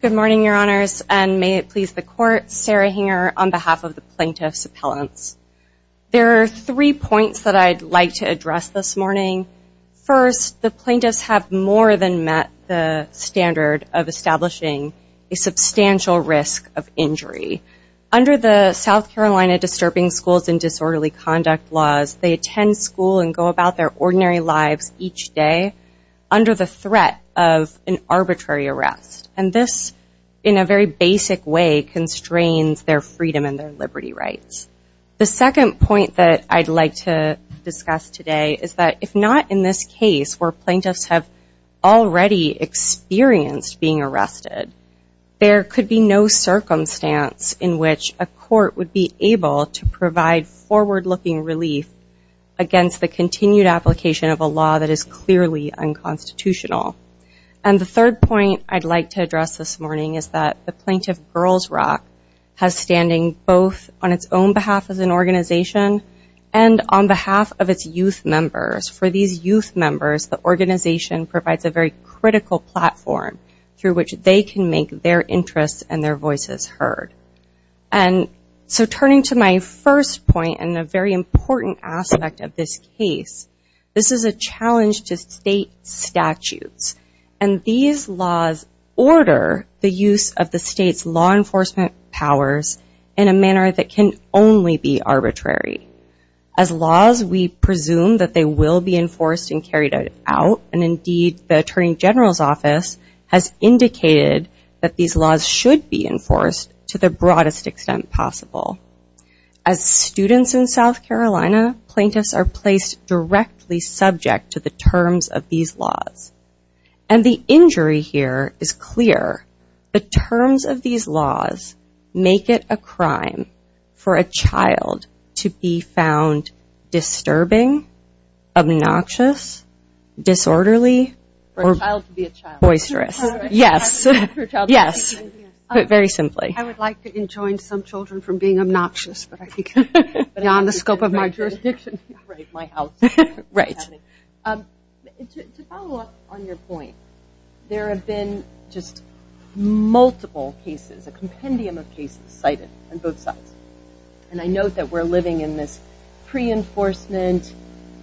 Good morning, Your Honors, and may it please the Court, Sarah Hinger on behalf of the Plaintiff's Appellants. There are three points that I'd like to address this morning. First, the Plaintiffs have more than met the standard of establishing a substantial risk of injury. Under the South Carolina Disturbing Schools and Disorderly Conduct laws, they attend school and go about their ordinary lives each day under the threat of an arbitrary arrest. And this, in a very basic way, constrains their freedom and their liberty rights. The second point that I'd like to discuss today is that if not in this case where Plaintiffs have already experienced being arrested, there could be no circumstance in which a court would be able to provide forward-looking relief against the continued application of a law that is clearly unconstitutional. And the third point I'd like to address this morning is that the Plaintiff Girls Rock has standing both on its own behalf as an organization and on behalf of its youth members. For these youth members, the organization provides a very critical platform through which they can make their interests and their voices heard. And so turning to my first point and a very important aspect of this case, this is a challenge to state statutes. And these laws order the use of the state's law enforcement powers in a manner that can only be arbitrary. As laws, we presume that they will be enforced and carried out, and indeed the Attorney General's indicated that these laws should be enforced to the broadest extent possible. As students in South Carolina, Plaintiffs are placed directly subject to the terms of these laws. And the injury here is clear. The terms of these laws make it a crime for a child to be found disturbing, obnoxious, disorderly, or boisterous. Yes. Yes. Put very simply. I would like to enjoin some children from being obnoxious beyond the scope of my jurisdiction. To follow up on your point, there have been just multiple cases, a compendium of cases cited on both sides. And I note that we're living in this pre-enforcement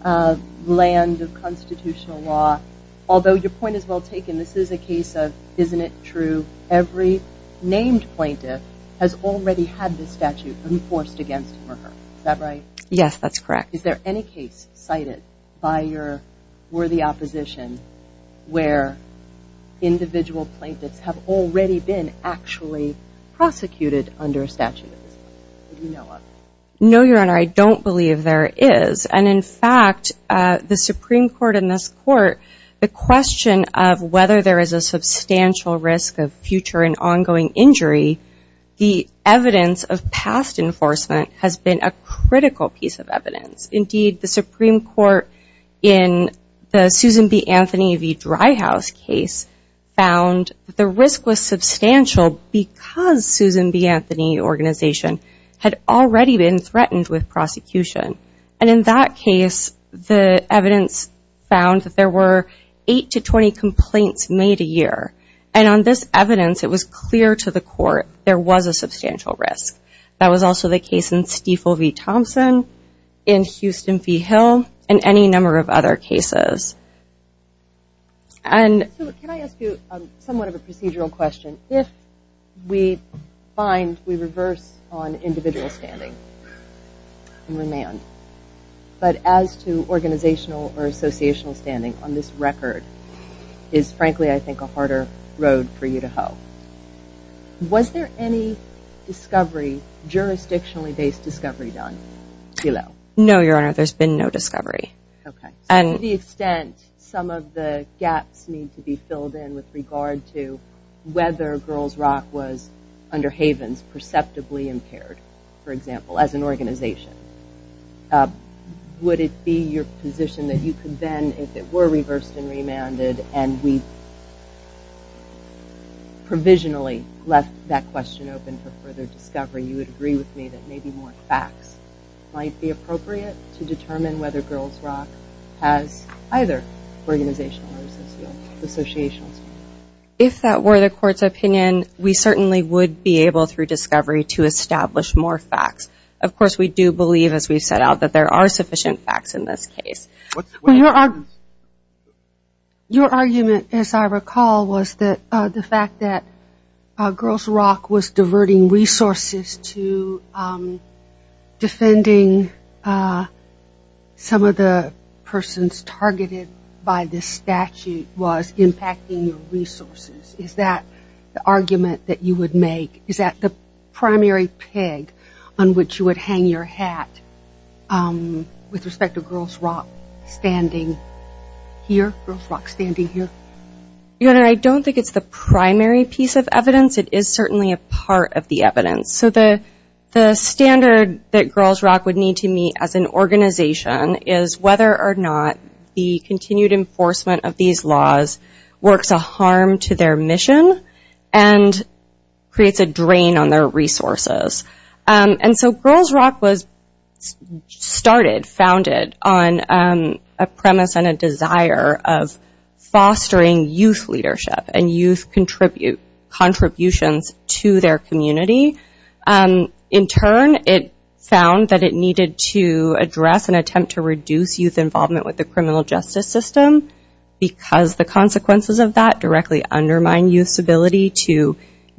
land of constitutional law. Although your point is well taken, this is a case of, isn't it true, every named plaintiff has already had this statute enforced against him or her. Is that right? Yes, that's correct. Is there any case cited by your worthy opposition where individual plaintiffs have already been actually prosecuted under statutes? No, Your Honor, I don't believe there is. And in fact, the Supreme Court in this court, the question of whether there is a substantial risk of future and ongoing injury, the evidence of past enforcement has been a critical piece of evidence. Indeed, the Supreme Court in the Susan B. Anthony v. Dry House case found the risk was substantial because Susan B. Anthony organization had already been threatened with prosecution. And in that case, the evidence found that there were eight to 20 complaints made a year. And on this evidence, it was clear to the court there was a substantial risk. That was also the case in Stiefel v. Corso's. And can I ask you somewhat of a procedural question? If we find we reverse on individual standing and remand, but as to organizational or associational standing on this record, is frankly, I think a harder road for you to hoe. Was there any discovery, jurisdictionally based discovery done below? No, Your Honor, there's been no discovery. Okay. So to the extent some of the gaps need to be filled in with regard to whether Girls Rock was under Havens perceptibly impaired, for example, as an organization, would it be your position that you could then, if it were reversed and remanded and we provisionally left that question open for further discovery, you would agree with me that maybe more facts might be appropriate to determine whether Girls Rock has either organizational or associational standing? If that were the court's opinion, we certainly would be able, through discovery, to establish more facts. Of course, we do believe, as we set out, that there are sufficient facts in this case. Your argument, as I recall, was that the fact that Girls Rock was diverting resources to defending some of the persons targeted by this statute was impacting your resources. Is that the argument that you would make? Is that the primary peg on which you would hang your hat with respect to Girls Rock standing here? Your Honor, I don't think it's the primary piece of evidence. It is certainly a part of the evidence. So the standard that Girls Rock would need to meet as an organization is whether or not the continued enforcement of these laws works a harm to their mission and creates a drain on their resources. And so Girls Rock was started, founded on a premise and a desire of fostering youth leadership and youth contributions to their community. In turn, it found that it needed to address and attempt to reduce youth involvement with the criminal justice system because the consequences of that directly undermine youth's ability to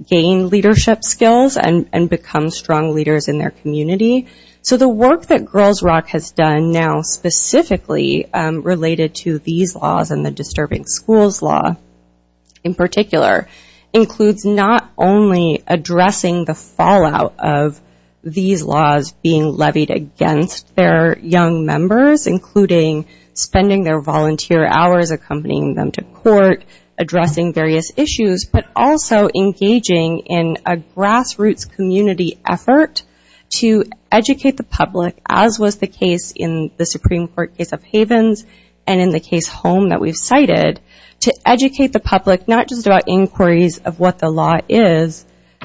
gain leadership skills and become strong leaders in their community. So the work that Girls Rock has done now, specifically related to these laws and the Supreme Court in particular, includes not only addressing the fallout of these laws being levied against their young members, including spending their volunteer hours accompanying them to court, addressing various issues, but also engaging in a grassroots community effort to educate the public, as was the case in the Supreme Court case of not just about inquiries of what the law is,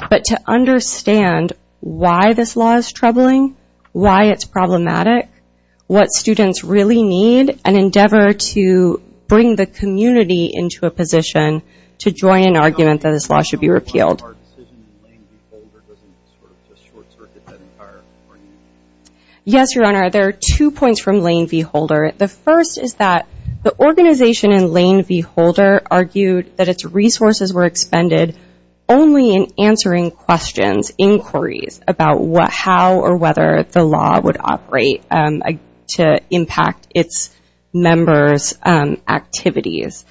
but to understand why this law is troubling, why it's problematic, what students really need, and endeavor to bring the community into a position to join an argument that this law should be repealed. Yes, Your Honor, there are two points from Lane v. Holder. The first is that the organization in Lane v. Holder argued that its resources were expended only in answering questions, inquiries, about how or whether the law would operate to impact its members' activities.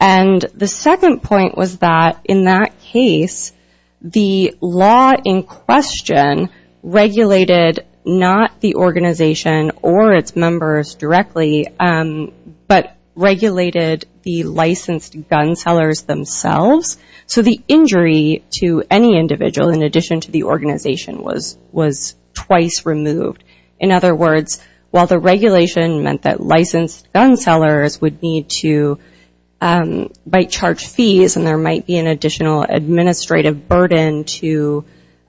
And the second point was that in that case, the law in question regulated not the organization or its members directly, but regulated the licensed gun sellers themselves. So the injury to any individual, in addition to the organization, was twice removed. In other words, while the regulation meant that licensed gun sellers would need to bite charge fees and there might be an additional administrative burden to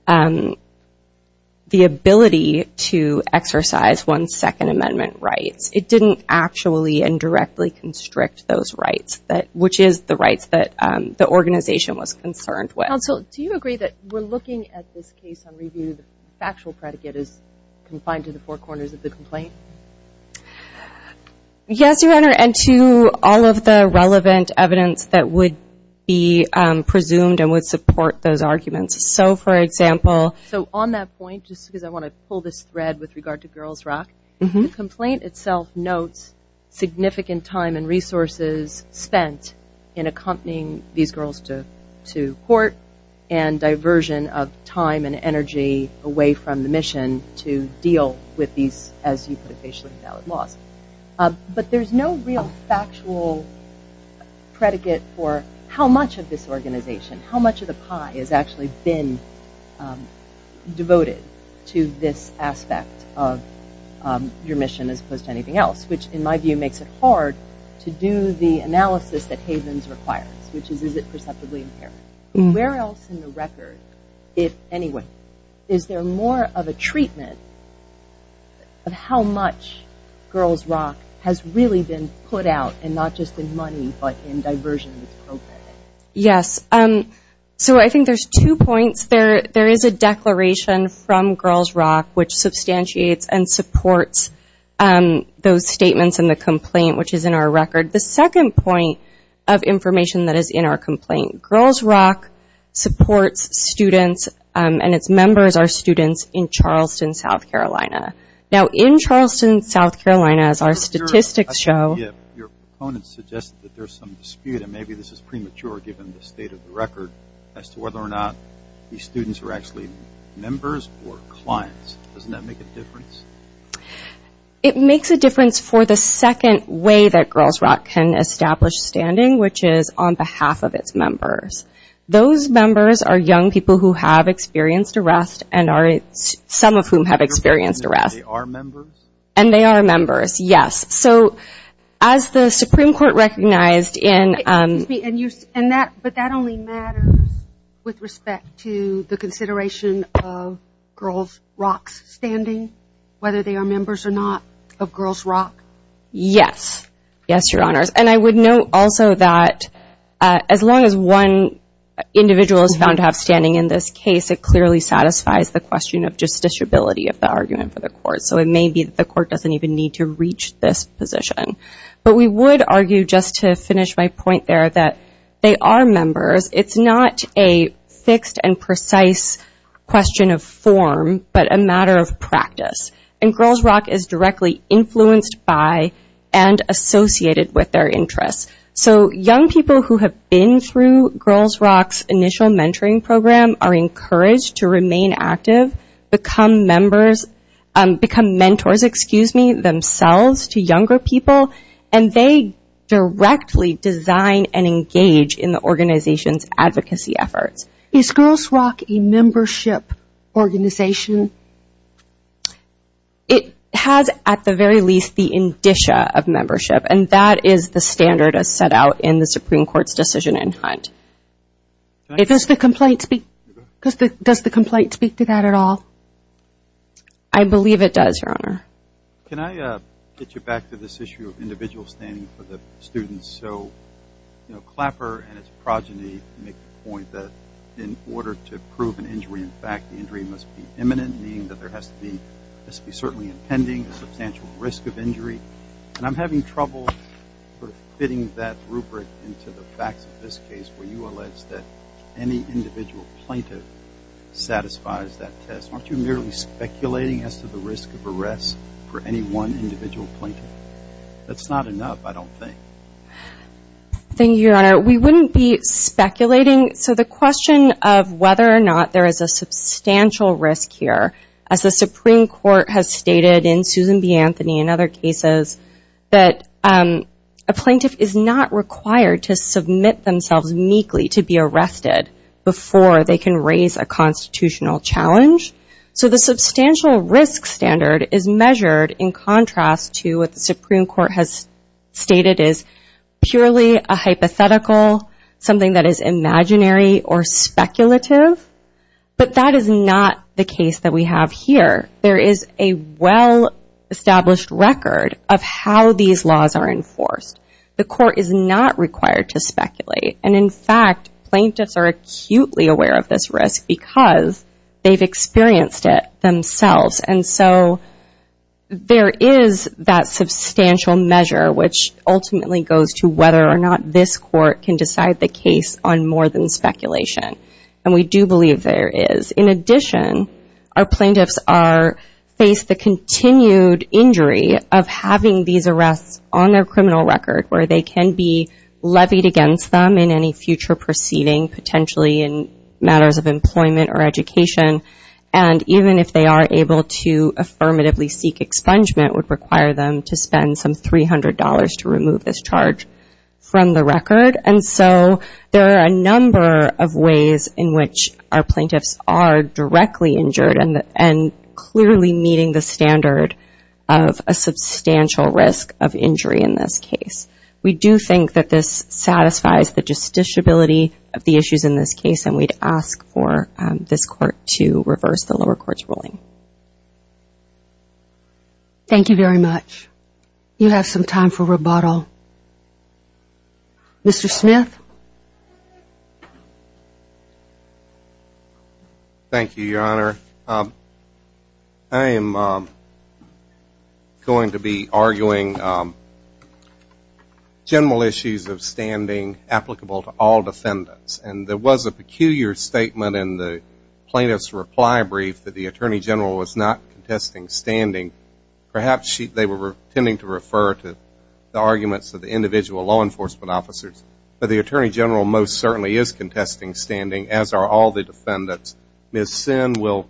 the ability to exercise one's Second Amendment rights, it didn't actually and directly constrict those rights, which is the rights that the organization was concerned with. Counsel, do you agree that we're looking at this case on review, the factual predicate is confined to the four corners of the complaint? Yes, Your Honor, and to all of the relevant evidence that would be presumed and would support those arguments. So, for example... So on that point, just because I want to pull this thread with regard to Girls Rock, the complaint itself notes significant time and resources spent in accompanying these girls to court and diversion of time and energy away from the mission to deal with these, as you put it, facially invalid laws. But there's no real factual predicate for how much of this organization, how much of the pie has actually been devoted to this aspect of your mission as opposed to anything else, which, in my view, makes it hard to do the analysis that Havens requires, which is, is it perceptibly inherent? Where else in the record, if anywhere, is there more of a treatment of how much Girls Rock has really been put out, and not just in money, but in diversion that's programmed in? Yes. So I think there's two points. There is a declaration from Girls Rock which substantiates and supports those statements in the complaint, which is in our record. The second point of information that is in our complaint, Girls Rock supports students and its members are students in Charleston, South Carolina. Now, in Charleston, South Carolina, as our statistics show... as to whether or not these students are actually members or clients. Doesn't that make a difference? It makes a difference for the second way that Girls Rock can establish standing, which is on behalf of its members. Those members are young people who have experienced arrest and are... some of whom have experienced arrest. And they are members? And they are members, yes. So as the Supreme Court recognized in... But that only matters with respect to the consideration of Girls Rock's standing, whether they are members or not of Girls Rock? Yes. Yes, Your Honors. And I would note also that as long as one individual is found to have standing in this case, it clearly satisfies the question of justiciability of the argument for the court. So it may be that the court doesn't even need to reach this position. But we would argue, just to finish my point there, that they are members. It's not a fixed and precise question of form, but a matter of practice. And Girls Rock is directly influenced by and associated with their interests. So young people who have been through Girls Rock's initial mentoring program are encouraged to remain active, become members... become mentors, excuse me, themselves to younger people, and they directly design and engage in the organization's advocacy efforts. Is Girls Rock a membership organization? It has, at the very least, the indicia of membership, and that is the standard as set out in the Supreme Court's decision in Hunt. Does the complaint speak to that at all? I believe it does, Your Honor. Can I get you back to this issue of individual standing for the students? So Clapper and its progeny make the point that in order to prove an injury in fact, the injury must be imminent, meaning that there has to be certainly impending, a substantial risk of injury. And I'm having trouble fitting that rubric into the facts of this case where you allege that any individual plaintiff satisfies that test. Aren't you merely speculating as to the risk of arrest for any one individual plaintiff? That's not enough, I don't think. Thank you, Your Honor. We wouldn't be speculating. So the question of whether or not there is a substantial risk here, as the Supreme Court has stated in Susan B. Anthony and other cases, that a plaintiff is not required to submit themselves meekly to be arrested before they can raise a constitutional challenge. So the substantial risk standard is measured in contrast to what the Supreme Court has stated as purely a hypothetical, something that is imaginary or speculative. But that is not the case that we have here. There is a well-established record of how these laws are enforced. The court is not required to speculate. And, in fact, plaintiffs are acutely aware of this risk because they've experienced it themselves. And so there is that substantial measure, which ultimately goes to whether or not this court can decide the case on more than speculation. And we do believe there is. In addition, our plaintiffs face the continued injury of having these arrests on their criminal record where they can be levied against them in any future proceeding, potentially in matters of employment or education. And even if they are able to affirmatively seek expungement, it would require them to spend some $300 to remove this charge from the record. And so there are a number of ways in which our plaintiffs are directly injured and clearly meeting the standard of a substantial risk of injury in this case. We do think that this satisfies the justiciability of the issues in this case, and we'd ask for this court to reverse the lower court's ruling. Thank you very much. You have some time for rebuttal. Mr. Smith? Thank you, Your Honor. I am going to be arguing general issues of standing applicable to all defendants. And there was a peculiar statement in the plaintiff's reply brief that the Attorney General was not contesting standing. Perhaps they were intending to refer to the arguments of the individual law enforcement officers, but the Attorney General most certainly is contesting standing, as are all the defendants. Ms. Sinn will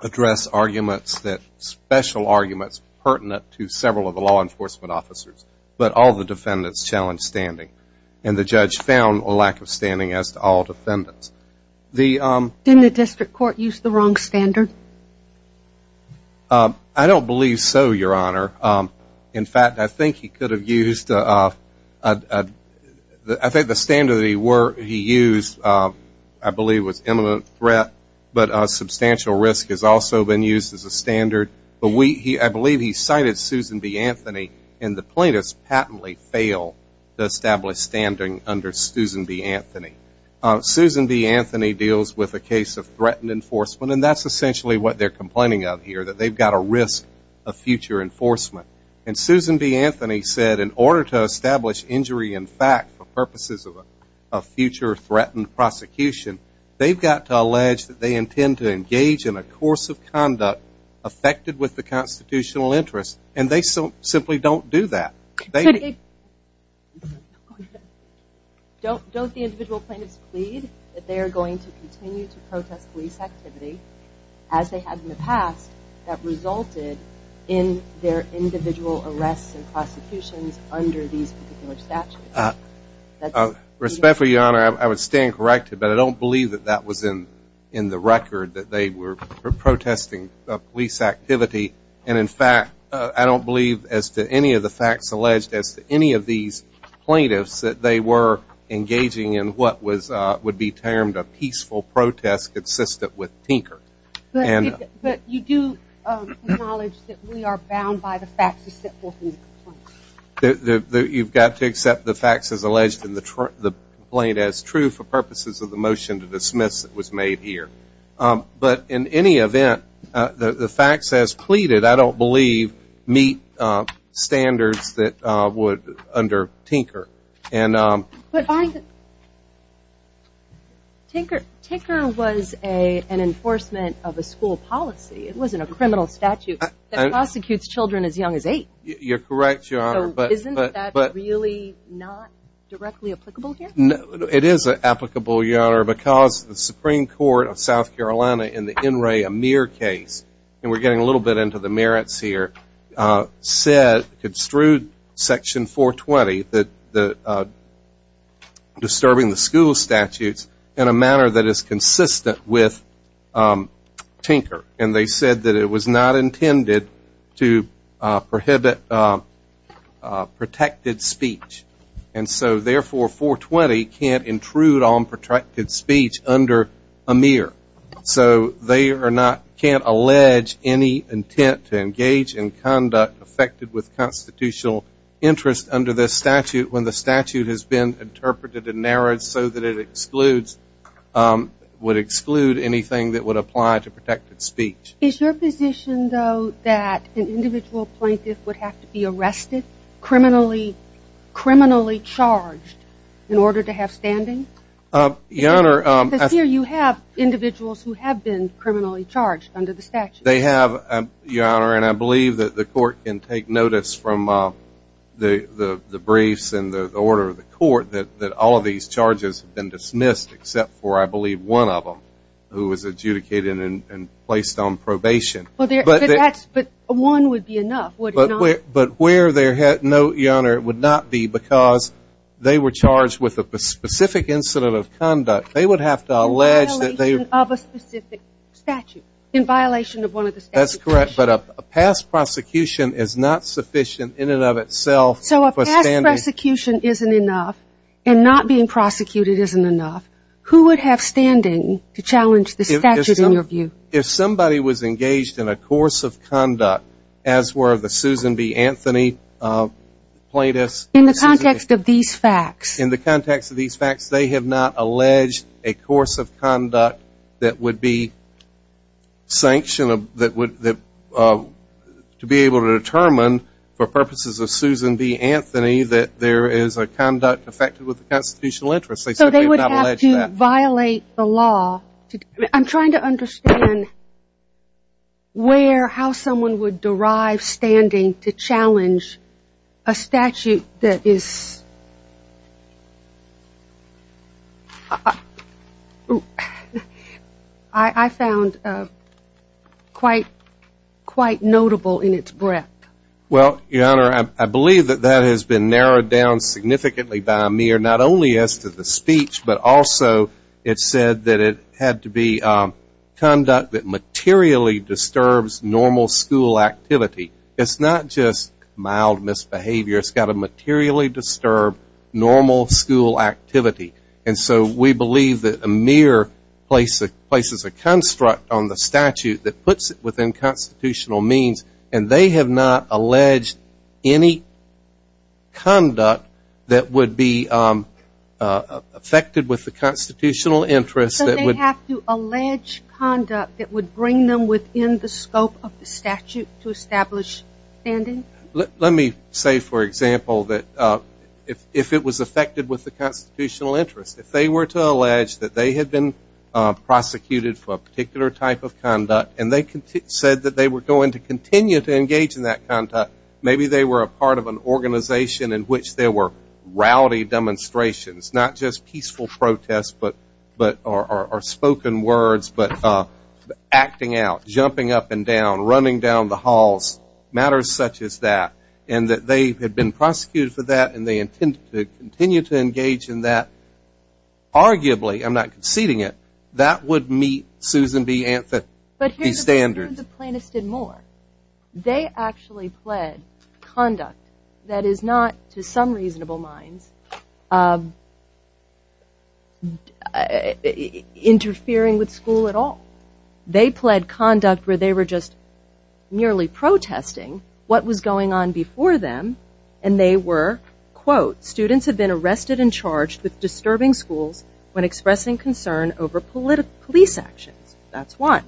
address arguments that special arguments pertinent to several of the law enforcement officers, but all the defendants challenge standing. And the judge found a lack of standing as to all defendants. Didn't the district court use the wrong standard? I don't believe so, Your Honor. In fact, I think the standard he used, I believe, was imminent threat, but substantial risk has also been used as a standard. But I believe he cited Susan B. Anthony, and the plaintiffs patently fail to establish standing under Susan B. Anthony. Susan B. Anthony deals with a case of threatened enforcement, and that's essentially what they're complaining of here, that they've got a risk of future enforcement. And Susan B. Anthony said in order to establish injury in fact for purposes of future threatened prosecution, they've got to allege that they intend to engage in a course of conduct affected with the constitutional interest, and they simply don't do that. Don't the individual plaintiffs plead that they are going to continue to protest police activity as they have in the past that resulted in their individual arrests and prosecutions under these particular statutes? Respectfully, Your Honor, I would stand corrected, but I don't believe that that was in the record that they were protesting police activity. And, in fact, I don't believe as to any of the facts alleged as to any of these plaintiffs that they were engaging in what would be termed a peaceful protest consistent with tinker. But you do acknowledge that we are bound by the facts as set forth in the complaint? You've got to accept the facts as alleged in the complaint as true for purposes of the motion to dismiss that was made here. But in any event, the facts as pleaded, I don't believe, meet standards that would under tinker. Tinker was an enforcement of a school policy. It wasn't a criminal statute that prosecutes children as young as eight. You're correct, Your Honor. So isn't that really not directly applicable here? It is applicable, Your Honor, because the Supreme Court of South Carolina in the N. Ray Amir case, and we're getting a little bit into the merits here, said through Section 420 that disturbing the school statutes in a manner that is consistent with tinker. And they said that it was not intended to prohibit protected speech. And so, therefore, 420 can't intrude on protected speech under Amir. So they are not, can't allege any intent to engage in conduct affected with constitutional interest under this statute when the statute has been interpreted and narrowed so that it excludes, would exclude anything that would apply to protected speech. Is your position, though, that an individual plaintiff would have to be arrested, criminally charged, in order to have standing? Your Honor. Because here you have individuals who have been criminally charged under the statute. They have, Your Honor, and I believe that the court can take notice from the briefs and the order of the court that all of these charges have been dismissed except for, I believe, one of them who was adjudicated and placed on probation. But one would be enough, would it not? But where there had, no, Your Honor, it would not be because they were charged with a specific incident of conduct. They would have to allege that they were. In violation of a specific statute, in violation of one of the statute conditions. That's correct. But a past prosecution is not sufficient in and of itself for standing. So if past prosecution isn't enough and not being prosecuted isn't enough, who would have standing to challenge the statute in your view? If somebody was engaged in a course of conduct, as were the Susan B. Anthony plaintiffs. In the context of these facts. In the context of these facts. They have not alleged a course of conduct that would be sanctioned, that would be able to determine for purposes of Susan B. Anthony, that there is a conduct affected with the constitutional interest. So they would have to violate the law. I'm trying to understand where, how someone would derive standing to challenge a statute that is, I found quite notable in its breadth. Well, your honor, I believe that that has been narrowed down significantly by Amir. Not only as to the speech, but also it said that it had to be conduct that materially disturbs normal school activity. It's not just mild misbehavior. It's got to materially disturb normal school activity. And so we believe that Amir places a construct on the statute that puts it within constitutional means. And they have not alleged any conduct that would be affected with the constitutional interest. So they have to allege conduct that would bring them within the scope of the statute to establish standing? Let me say, for example, that if it was affected with the constitutional interest, if they were to allege that they had been prosecuted for a particular type of conduct, and they said that they were going to continue to engage in that conduct, maybe they were a part of an organization in which there were rowdy demonstrations, not just peaceful protests or spoken words, but acting out, jumping up and down, running down the halls, matters such as that, and that they had been prosecuted for that and they intended to continue to engage in that, arguably, I'm not conceding it, that would meet Susan B. But here's the thing with the plaintiffs did more. They actually pled conduct that is not, to some reasonable minds, interfering with school at all. They pled conduct where they were just merely protesting what was going on before them, and they were, quote, students have been arrested and charged with disturbing schools when expressing concern over police actions. That's one.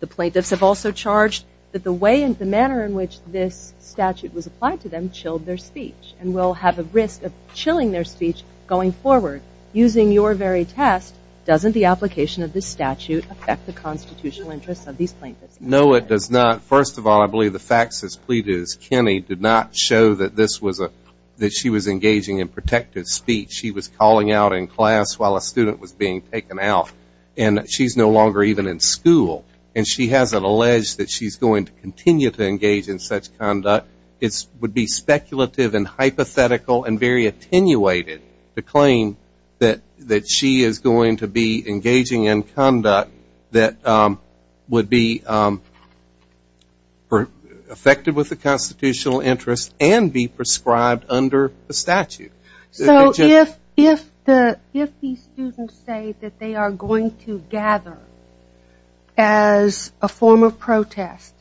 The plaintiffs have also charged that the way and the manner in which this statute was applied to them chilled their speech and will have a risk of chilling their speech going forward. Using your very test, doesn't the application of this statute affect the constitutional interests of these plaintiffs? No, it does not. First of all, I believe the facts as pleaded as Kenny did not show that this was a, that she was engaging in protective speech. She was calling out in class while a student was being taken out. And she's no longer even in school. And she hasn't alleged that she's going to continue to engage in such conduct. It would be speculative and hypothetical and very attenuated to claim that she is going to be engaging in conduct that would be effective with the constitutional interests and be prescribed under the statute. So if these students say that they are going to gather as a form of protest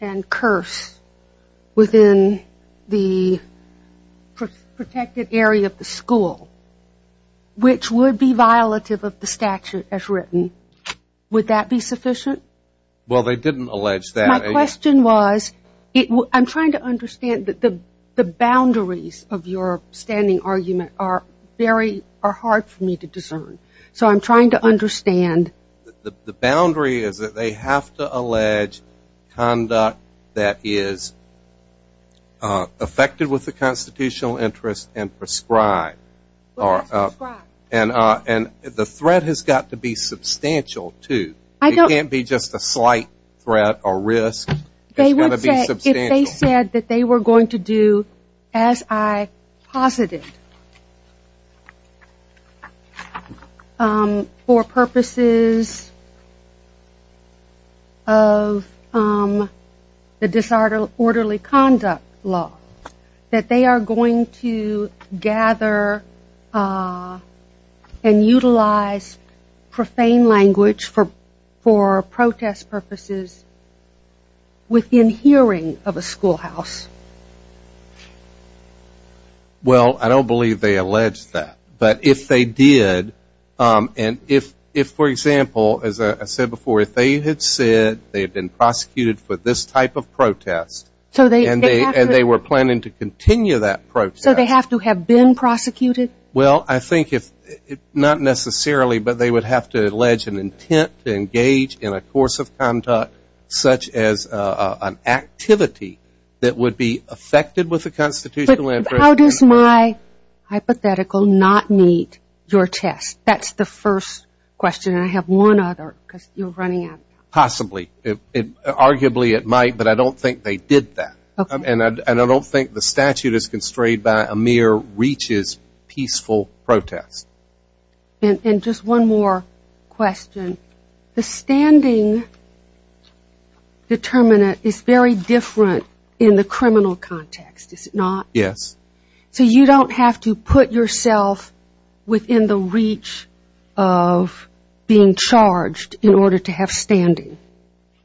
and curse within the protected area of the school, which would be violative of the statute as written, would that be sufficient? Well, they didn't allege that. My question was, I'm trying to understand the boundaries of your standing argument are very hard for me to discern. So I'm trying to understand. The boundary is that they have to allege conduct that is affected with the constitutional interests and prescribed. And the threat has got to be substantial, too. It can't be just a slight threat or risk. It's got to be substantial. If they said that they were going to do, as I posited, for purposes of the disorderly conduct law, that they are going to gather and utilize profane language for protest purposes within hearing of a schoolhouse. Well, I don't believe they allege that. But if they did, and if, for example, as I said before, if they had said they had been prosecuted for this type of protest and they were planning to continue that protest. So they have to have been prosecuted? Well, I think if, not necessarily, but they would have to allege an intent to engage in a course of conduct such as an activity that would be affected with the constitutional interests. How does my hypothetical not meet your test? That's the first question. And I have one other because you're running out of time. Possibly. Arguably it might, but I don't think they did that. And I don't think the statute is constrained by a mere reaches peaceful protest. And just one more question. The standing determinant is very different in the criminal context, is it not? Yes. So you don't have to put yourself within the reach of being charged in order to have standing?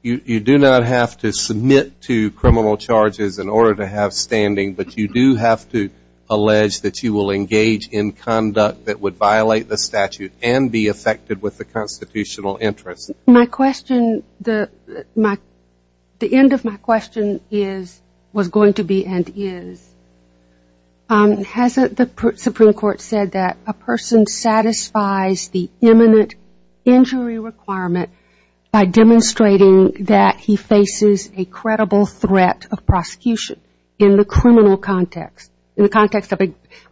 You do not have to submit to criminal charges in order to have standing, but you do have to allege that you will engage in conduct that would violate the statute and be affected with the constitutional interests. My question, the end of my question is, was going to be and is, hasn't the Supreme Court said that a person satisfies the imminent injury requirement by demonstrating that he faces a credible threat of prosecution in the criminal context, in the context of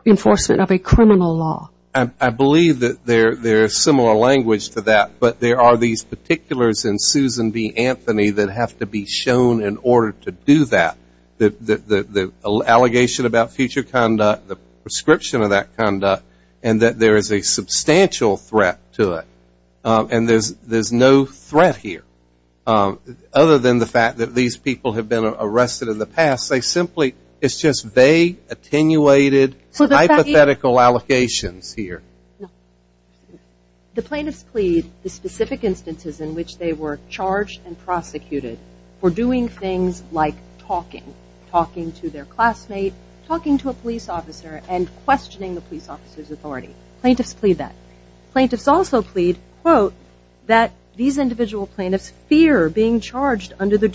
enforcement of a criminal law? I believe that there is similar language to that, but there are these particulars in Susan B. Anthony that have to be shown in order to do that. The allegation about future conduct, the prescription of that conduct, and that there is a substantial threat to it. And there's no threat here, other than the fact that these people have been arrested in the past. It's just vague, attenuated, hypothetical allocations here. The plaintiffs plead the specific instances in which they were charged and prosecuted for doing things like talking, talking to their classmate, talking to a police officer, and questioning the police officer's authority. Plaintiffs plead that. Plaintiffs also plead, quote, that these individual plaintiffs fear being charged under the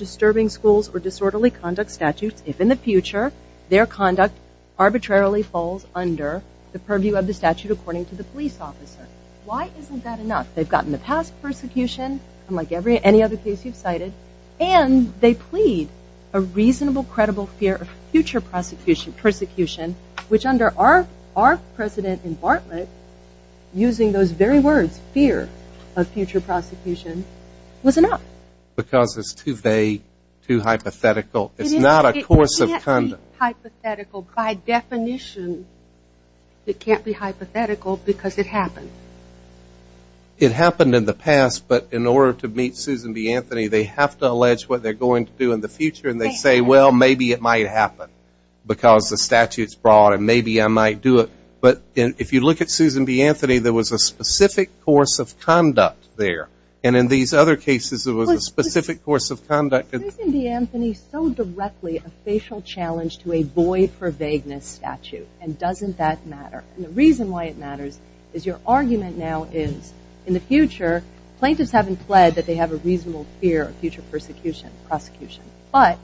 if in the future their conduct arbitrarily falls under the purview of the statute according to the police officer. Why isn't that enough? They've gotten the past persecution, unlike any other case you've cited, and they plead a reasonable, credible fear of future prosecution, which under our precedent in Bartlett, using those very words, fear of future prosecution, was enough. Because it's too vague, too hypothetical. It's not a course of conduct. It can't be hypothetical by definition. It can't be hypothetical because it happened. It happened in the past, but in order to meet Susan B. Anthony, they have to allege what they're going to do in the future, and they say, well, maybe it might happen because the statute's broad, and maybe I might do it. But if you look at Susan B. Anthony, there was a specific course of conduct there. And in these other cases, there was a specific course of conduct. Isn't Susan B. Anthony so directly a facial challenge to a void-for-vagueness statute, and doesn't that matter? And the reason why it matters is your argument now is in the future, plaintiffs haven't pled that they have a reasonable fear of future persecution, prosecution. But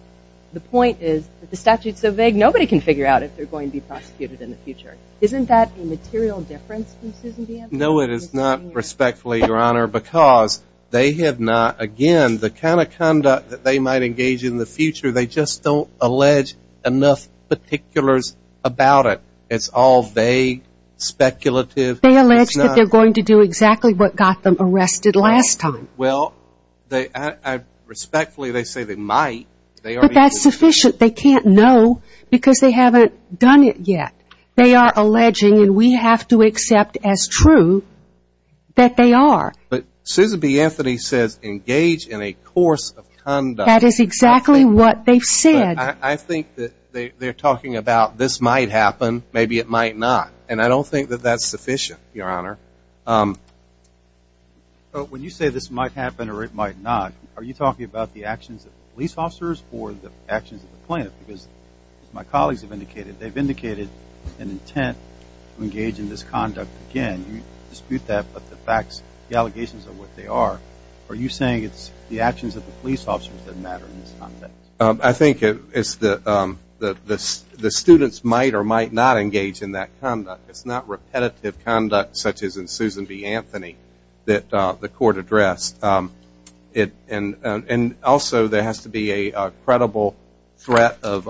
the point is that the statute's so vague, nobody can figure out if they're going to be prosecuted in the future. Isn't that a material difference from Susan B. Anthony? No, it is not, respectfully, Your Honor, because they have not, again, the kind of conduct that they might engage in in the future, they just don't allege enough particulars about it. It's all vague, speculative. They allege that they're going to do exactly what got them arrested last time. Well, respectfully, they say they might. But that's sufficient. They can't know because they haven't done it yet. They are alleging, and we have to accept as true, that they are. But Susan B. Anthony says engage in a course of conduct. That is exactly what they've said. I think that they're talking about this might happen, maybe it might not. And I don't think that that's sufficient, Your Honor. When you say this might happen or it might not, are you talking about the actions of the police officers or the actions of the plaintiff? Because, as my colleagues have indicated, they've indicated an intent to engage in this conduct. Again, you dispute that, but the facts, the allegations of what they are, are you saying it's the actions of the police officers that matter in this context? I think it's the students might or might not engage in that conduct. It's not repetitive conduct such as in Susan B. Anthony that the court addressed. And also, there has to be a credible threat of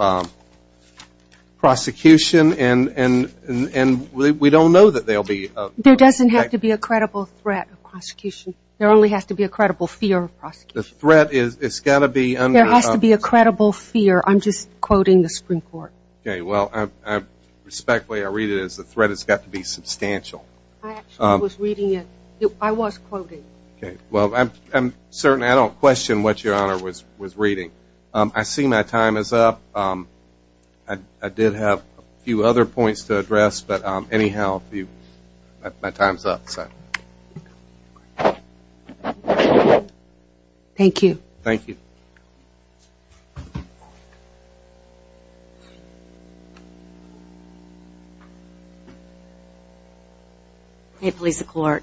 prosecution, and we don't know that there will be. There doesn't have to be a credible threat of prosecution. There only has to be a credible fear of prosecution. The threat has got to be under. There has to be a credible fear. I'm just quoting the Supreme Court. Okay, well, respectfully, I read it as the threat has got to be substantial. I actually was reading it. I was quoting. Okay, well, I'm certain I don't question what Your Honor was reading. I see my time is up. I did have a few other points to address, but anyhow, my time is up. Thank you. Thank you. Hey, police and court.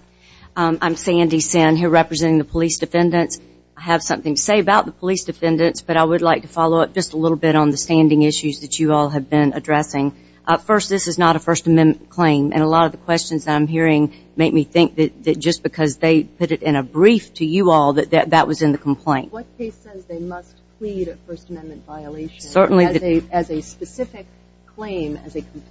I'm Sandy Senn here representing the police defendants. I have something to say about the police defendants, but I would like to follow up just a little bit on the standing issues that you all have been addressing. First, this is not a First Amendment claim, and a lot of the questions I'm hearing make me think that just because they put it in a brief to you all that that was in the complaint. What case says they must plead a First Amendment violation as a specific claim,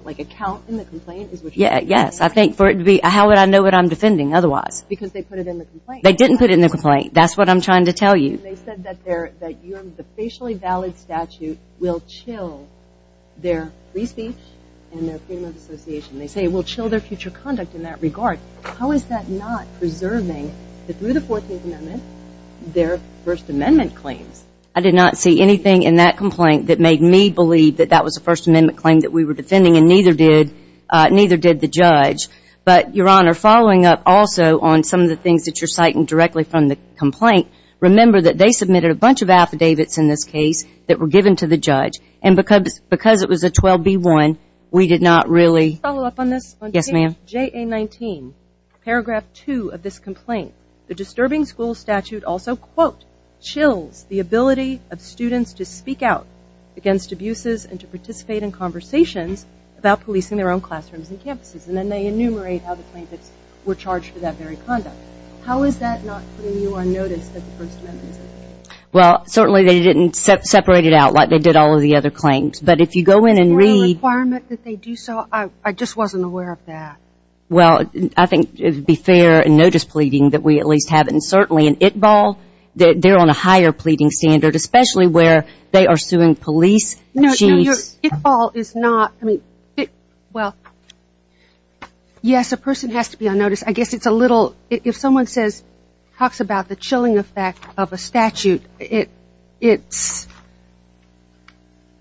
like a count in the complaint? Yes. How would I know what I'm defending otherwise? Because they put it in the complaint. They didn't put it in the complaint. That's what I'm trying to tell you. They said that the facially valid statute will chill their free speech and their freedom of association. They say it will chill their future conduct in that regard. How is that not preserving, through the 14th Amendment, their First Amendment claims? I did not see anything in that complaint that made me believe that that was a First Amendment claim that we were defending, and neither did the judge. But, Your Honor, following up also on some of the things that you're citing directly from the complaint, remember that they submitted a bunch of affidavits in this case that were given to the judge, and because it was a 12B1, we did not really. Can I follow up on this? Yes, ma'am. On page JA19, paragraph 2 of this complaint, the disturbing school statute also, quote, and then they enumerate how the plaintiffs were charged for that very conduct. How is that not putting you on notice that the First Amendment is in there? Well, certainly they didn't separate it out like they did all of the other claims. But if you go in and read. Is there a requirement that they do so? I just wasn't aware of that. Well, I think it would be fair in notice pleading that we at least have it, and certainly in ITBAL, they're on a higher pleading standard, especially where they are suing police. No, ITBAL is not, I mean, well, yes, a person has to be on notice. I guess it's a little, if someone says, talks about the chilling effect of a statute, it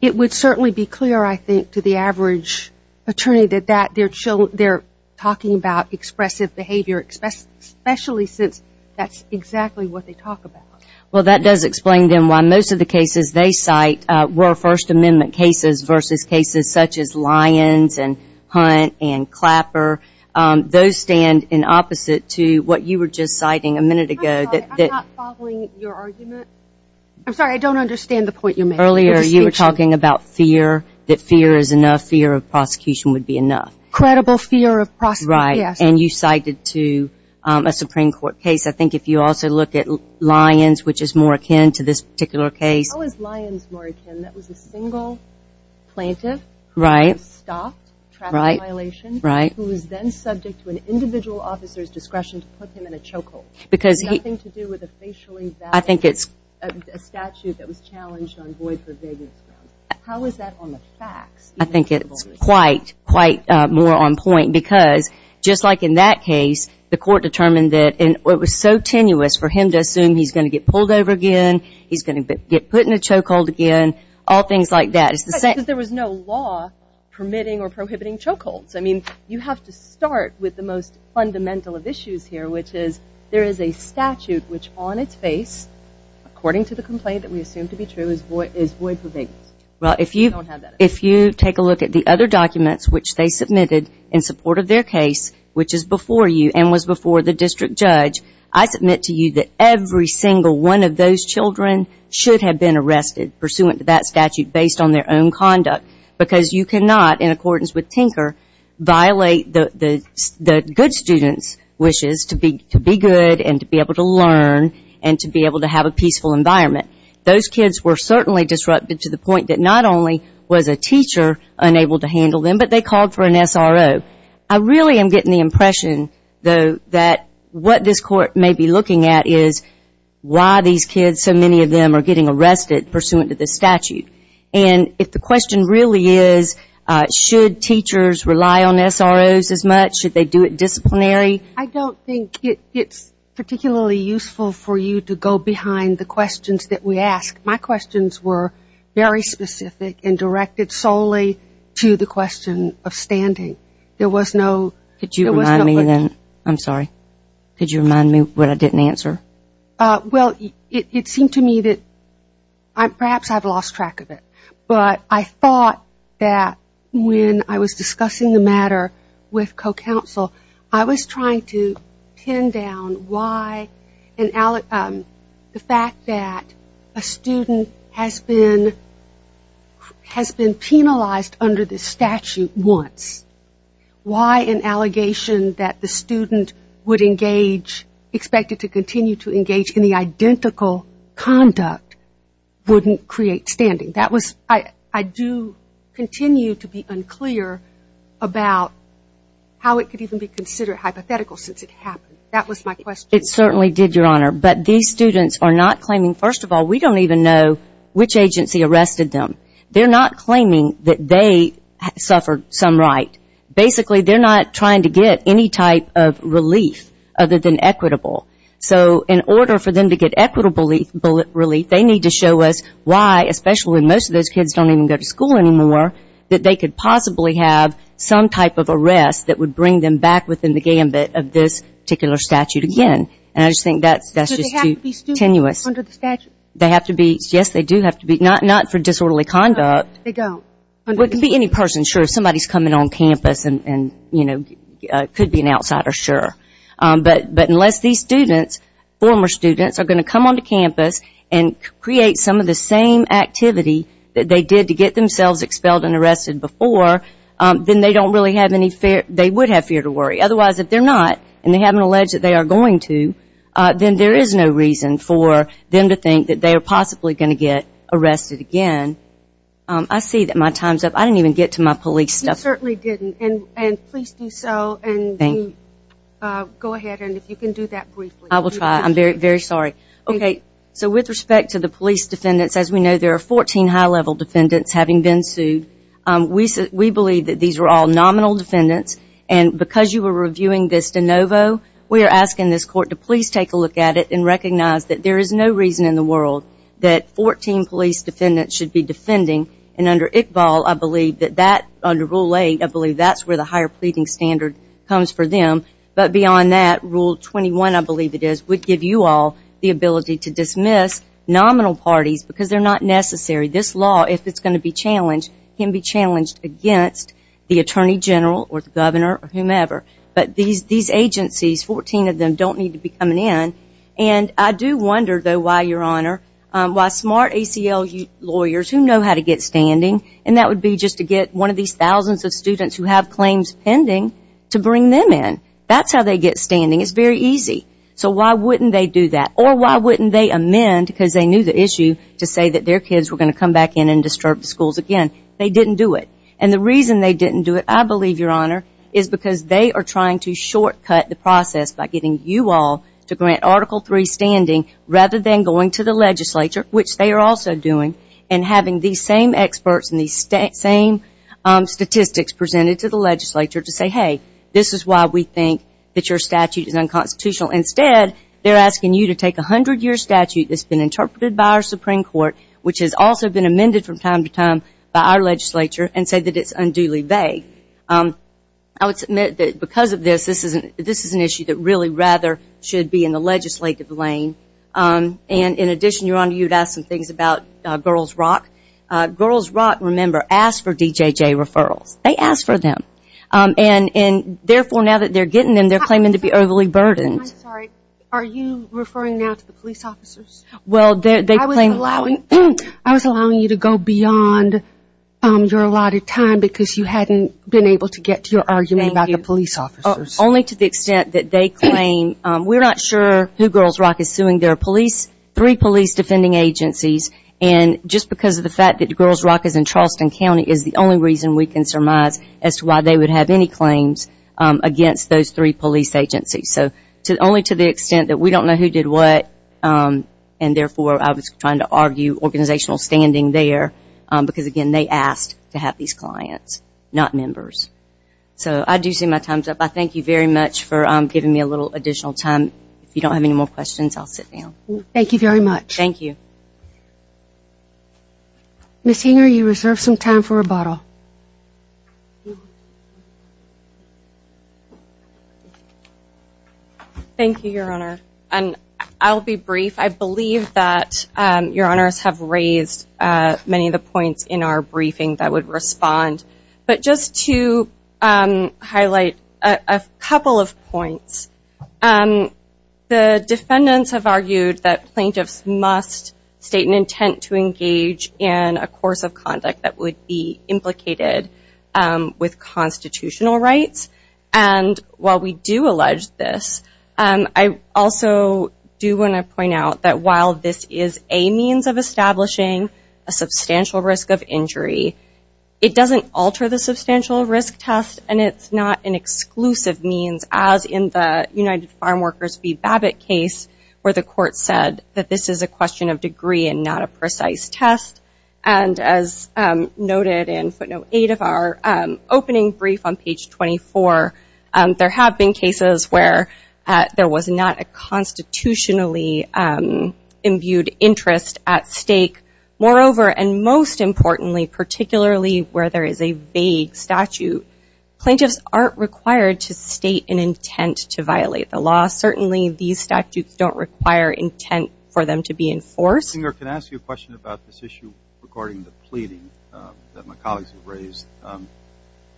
would certainly be clear, I think, to the average attorney that they're talking about expressive behavior, especially since that's exactly what they talk about. Well, that does explain, then, why most of the cases they cite were First Amendment cases versus cases such as Lyons and Hunt and Clapper. Those stand in opposite to what you were just citing a minute ago. I'm sorry, I'm not following your argument. I'm sorry, I don't understand the point you're making. Earlier you were talking about fear, that fear is enough, fear of prosecution would be enough. Credible fear of prosecution, yes. Right, and you cited, too, a Supreme Court case. I think if you also look at Lyons, which is more akin to this particular case. How is Lyons more akin? That was a single plaintiff who was stopped, traffic violation, who was then subject to an individual officer's discretion to put him in a chokehold. Nothing to do with a facially valid statute that was challenged on void for vagueness grounds. How is that on the facts? I think it's quite more on point because, just like in that case, the court determined that it was so tenuous for him to assume he's going to get pulled over again, he's going to get put in a chokehold again, all things like that. There was no law permitting or prohibiting chokeholds. I mean, you have to start with the most fundamental of issues here, which is there is a statute which, on its face, according to the complaint that we assume to be true, is void for vagueness. Well, if you take a look at the other documents which they submitted in support of their case, which is before you and was before the district judge, I submit to you that every single one of those children should have been arrested pursuant to that statute based on their own conduct because you cannot, in accordance with Tinker, violate the good student's wishes to be good and to be able to learn and to be able to have a peaceful environment. Those kids were certainly disrupted to the point that not only was a teacher unable to handle them, but they called for an SRO. I really am getting the impression, though, that what this court may be looking at is why these kids, so many of them, are getting arrested pursuant to this statute. And if the question really is should teachers rely on SROs as much, should they do it disciplinary? I don't think it's particularly useful for you to go behind the questions that we ask. My questions were very specific and directed solely to the question of standing. There was no looking. Could you remind me then? I'm sorry. Could you remind me what I didn't answer? Well, it seemed to me that perhaps I've lost track of it. But I thought that when I was discussing the matter with co-counsel, I was trying to pin down why the fact that a student has been penalized under this statute once, why an allegation that the student would engage, expected to continue to engage, in the identical conduct wouldn't create standing. I do continue to be unclear about how it could even be considered hypothetical since it happened. That was my question. It certainly did, Your Honor. But these students are not claiming, first of all, we don't even know which agency arrested them. They're not claiming that they suffered some right. Basically, they're not trying to get any type of relief other than equitable. So in order for them to get equitable relief, they need to show us why, especially when most of those kids don't even go to school anymore, that they could possibly have some type of arrest that would bring them back within the gambit of this particular statute again. And I just think that's just too tenuous. So they have to be students under the statute? They have to be. Yes, they do have to be. Not for disorderly conduct. No, they don't. Well, it could be any person. Sure, if somebody's coming on campus and, you know, could be an outsider, sure. But unless these students, former students, are going to come onto campus and create some of the same activity that they did to get themselves expelled and arrested before, then they don't really have any fear. They would have fear to worry. Otherwise, if they're not and they haven't alleged that they are going to, then there is no reason for them to think that they are possibly going to get arrested again. I see that my time's up. I didn't even get to my police stuff. You certainly didn't. And please do so. Thank you. Go ahead. And if you can do that briefly. I will try. I'm very sorry. Okay, so with respect to the police defendants, as we know, there are 14 high-level defendants having been sued. We believe that these are all nominal defendants. And because you were reviewing this de novo, we are asking this court to please take a look at it and recognize that there is no reason in the world that 14 police defendants should be defending. And under Iqbal, I believe that under Rule 8, I believe that's where the higher pleading standard comes for them. But beyond that, Rule 21, I believe it is, would give you all the ability to dismiss nominal parties because they're not necessary. This law, if it's going to be challenged, can be challenged against the Attorney General or the Governor or whomever. But these agencies, 14 of them, don't need to be coming in. And I do wonder, though, why, Your Honor, why smart ACL lawyers who know how to get standing, and that would be just to get one of these thousands of students who have claims pending to bring them in. That's how they get standing. It's very easy. So why wouldn't they do that? Or why wouldn't they amend, because they knew the issue, to say that their kids were going to come back in and disturb the schools again? They didn't do it. And the reason they didn't do it, I believe, Your Honor, is because they are trying to shortcut the process by getting you all to grant Article III standing rather than going to the legislature, which they are also doing, and having these same experts and these same statistics presented to the legislature to say, hey, this is why we think that your statute is unconstitutional. Instead, they're asking you to take a 100-year statute that's been interpreted by our Supreme Court, which has also been amended from time to time by our legislature, and say that it's unduly vague. I would submit that because of this, this is an issue that really rather should be in the legislative lane. And in addition, Your Honor, you had asked some things about Girls Rock. Girls Rock, remember, asked for DJJ referrals. They asked for them. And therefore, now that they're getting them, they're claiming to be overly burdened. I'm sorry. Are you referring now to the police officers? Well, they claim... I was allowing you to go beyond your allotted time because you hadn't been able to get to your argument about the police officers. Thank you. Only to the extent that they claim... We're not sure who Girls Rock is suing. There are three police defending agencies, and just because of the fact that Girls Rock is in Charleston County is the only reason we can surmise as to why they would have any claims against those three police agencies. So only to the extent that we don't know who did what, and therefore I was trying to argue organizational standing there, because, again, they asked to have these clients, not members. So I do see my time's up. I thank you very much for giving me a little additional time. If you don't have any more questions, I'll sit down. Thank you very much. Thank you. Ms. Hinger, you reserve some time for rebuttal. Thank you, Your Honor. I'll be brief. I believe that Your Honors have raised many of the points in our briefing that would respond. But just to highlight a couple of points, the defendants have argued that plaintiffs must state an intent to engage in a course of conduct that would be implicated with constitutional rights. While we do allege this, I also do want to point out that while this is a means of establishing a substantial risk of injury, it doesn't alter the substantial risk test, and it's not an exclusive means as in the United Farm Workers v. Babbitt case where the court said that this is a question of degree and not a precise test. And as noted in footnote 8 of our opening brief on page 24, there have been cases where there was not a constitutionally imbued interest at stake. Moreover, and most importantly, particularly where there is a vague statute, plaintiffs aren't required to state an intent to violate the law. Certainly these statutes don't require intent for them to be enforced. Ms. Singer, can I ask you a question about this issue regarding the pleading that my colleagues have raised?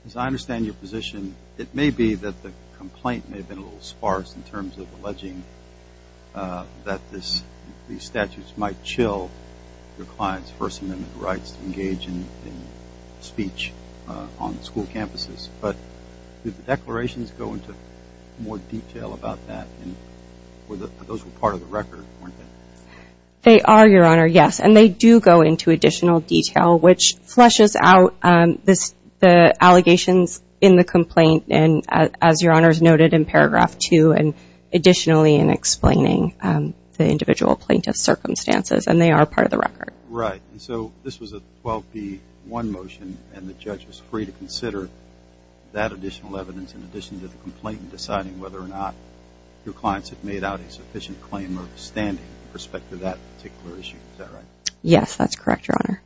As I understand your position, it may be that the complaint may have been a little sparse in terms of alleging that these statutes might chill your client's First Amendment rights to engage in speech on school campuses. But did the declarations go into more detail about that? Those were part of the record, weren't they? They are, Your Honor, yes. And they do go into additional detail, which flushes out the allegations in the complaint and, as Your Honor has noted, in paragraph 2 and additionally in explaining the individual plaintiff's circumstances. And they are part of the record. Right. So this was a 12b-1 motion, and the judge was free to consider that additional evidence in addition to the complaint in deciding whether or not your clients had made out a sufficient claim of standing with respect to that particular issue. Is that right? Yes, that's correct, Your Honor.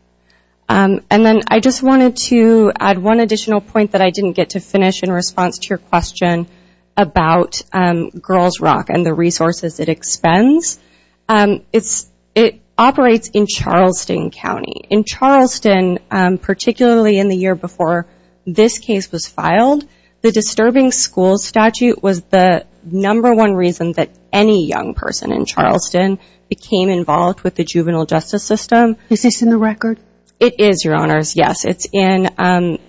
And then I just wanted to add one additional point that I didn't get to finish in response to your question about Girls Rock and the resources it expends. It operates in Charleston County. The disturbing school statute was the number one reason that any young person in Charleston became involved with the juvenile justice system. Is this in the record? It is, Your Honors, yes. It's in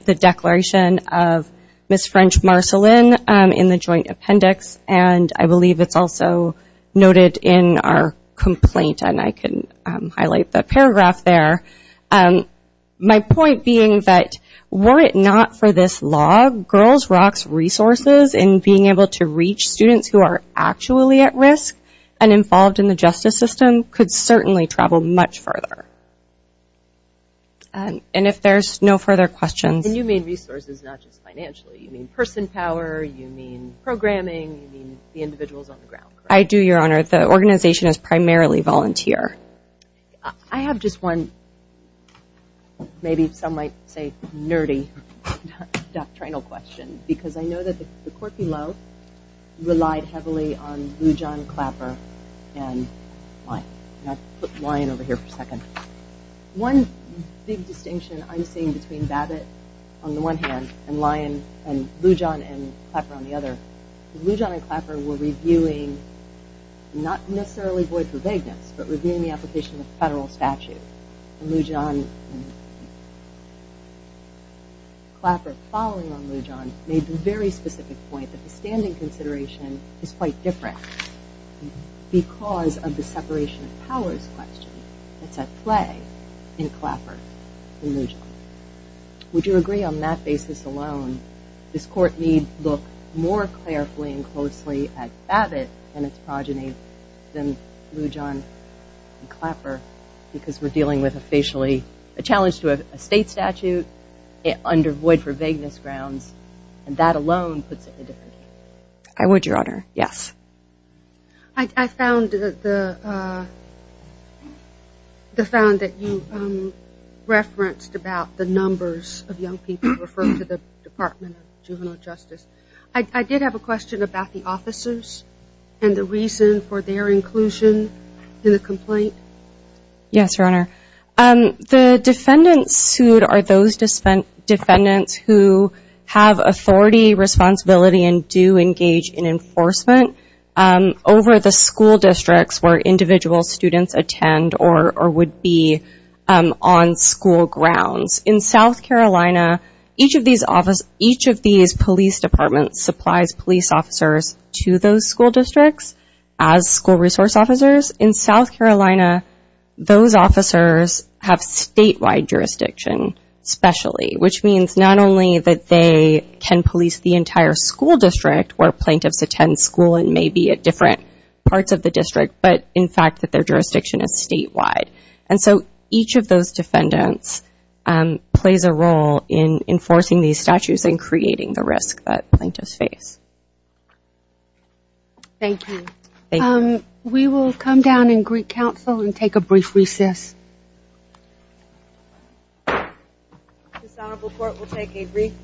the declaration of Ms. French-Marcelin in the joint appendix, and I believe it's also noted in our complaint, and I can highlight the paragraph there. My point being that were it not for this law, Girls Rock's resources in being able to reach students who are actually at risk and involved in the justice system could certainly travel much further. And if there's no further questions. And you mean resources, not just financially. You mean person power, you mean programming, you mean the individuals on the ground, correct? I do, Your Honor. The organization is primarily volunteer. I have just one maybe some might say nerdy doctrinal question because I know that the court below relied heavily on Lujan, Clapper, and Lyon. And I'll put Lyon over here for a second. One big distinction I'm seeing between Babbitt on the one hand and Lujan and Clapper on the other, Lujan and Clapper were reviewing not necessarily void for vagueness but reviewing the application of federal statute. And Lujan and Clapper following on Lujan made the very specific point that the standing consideration is quite different because of the separation of powers question that's at play in Clapper and Lujan. Would you agree on that basis alone, this court need look more carefully and closely at Babbitt and its progeny than Lujan and Clapper because we're dealing with a challenge to a state statute under void for vagueness grounds and that alone puts it in a different game? I would, Your Honor, yes. I found that you referenced about the numbers of young people referred to the Department of Juvenile Justice. I did have a question about the officers and the reason for their inclusion in the complaint. Yes, Your Honor. The defendants sued are those defendants who have authority, responsibility, and do engage in enforcement over the school districts where individual students attend or would be on school grounds. In South Carolina, each of these police departments supplies police officers to those school districts as school resource officers. In South Carolina, those officers have statewide jurisdiction specially, which means not only that they can police the entire school district where plaintiffs attend school and may be at different parts of the district, but in fact that their jurisdiction is statewide. And so each of those defendants plays a role in enforcing these statutes and creating the risk that plaintiffs face. Thank you. We will come down and greet counsel and take a brief recess. This honorable court will take a brief recess.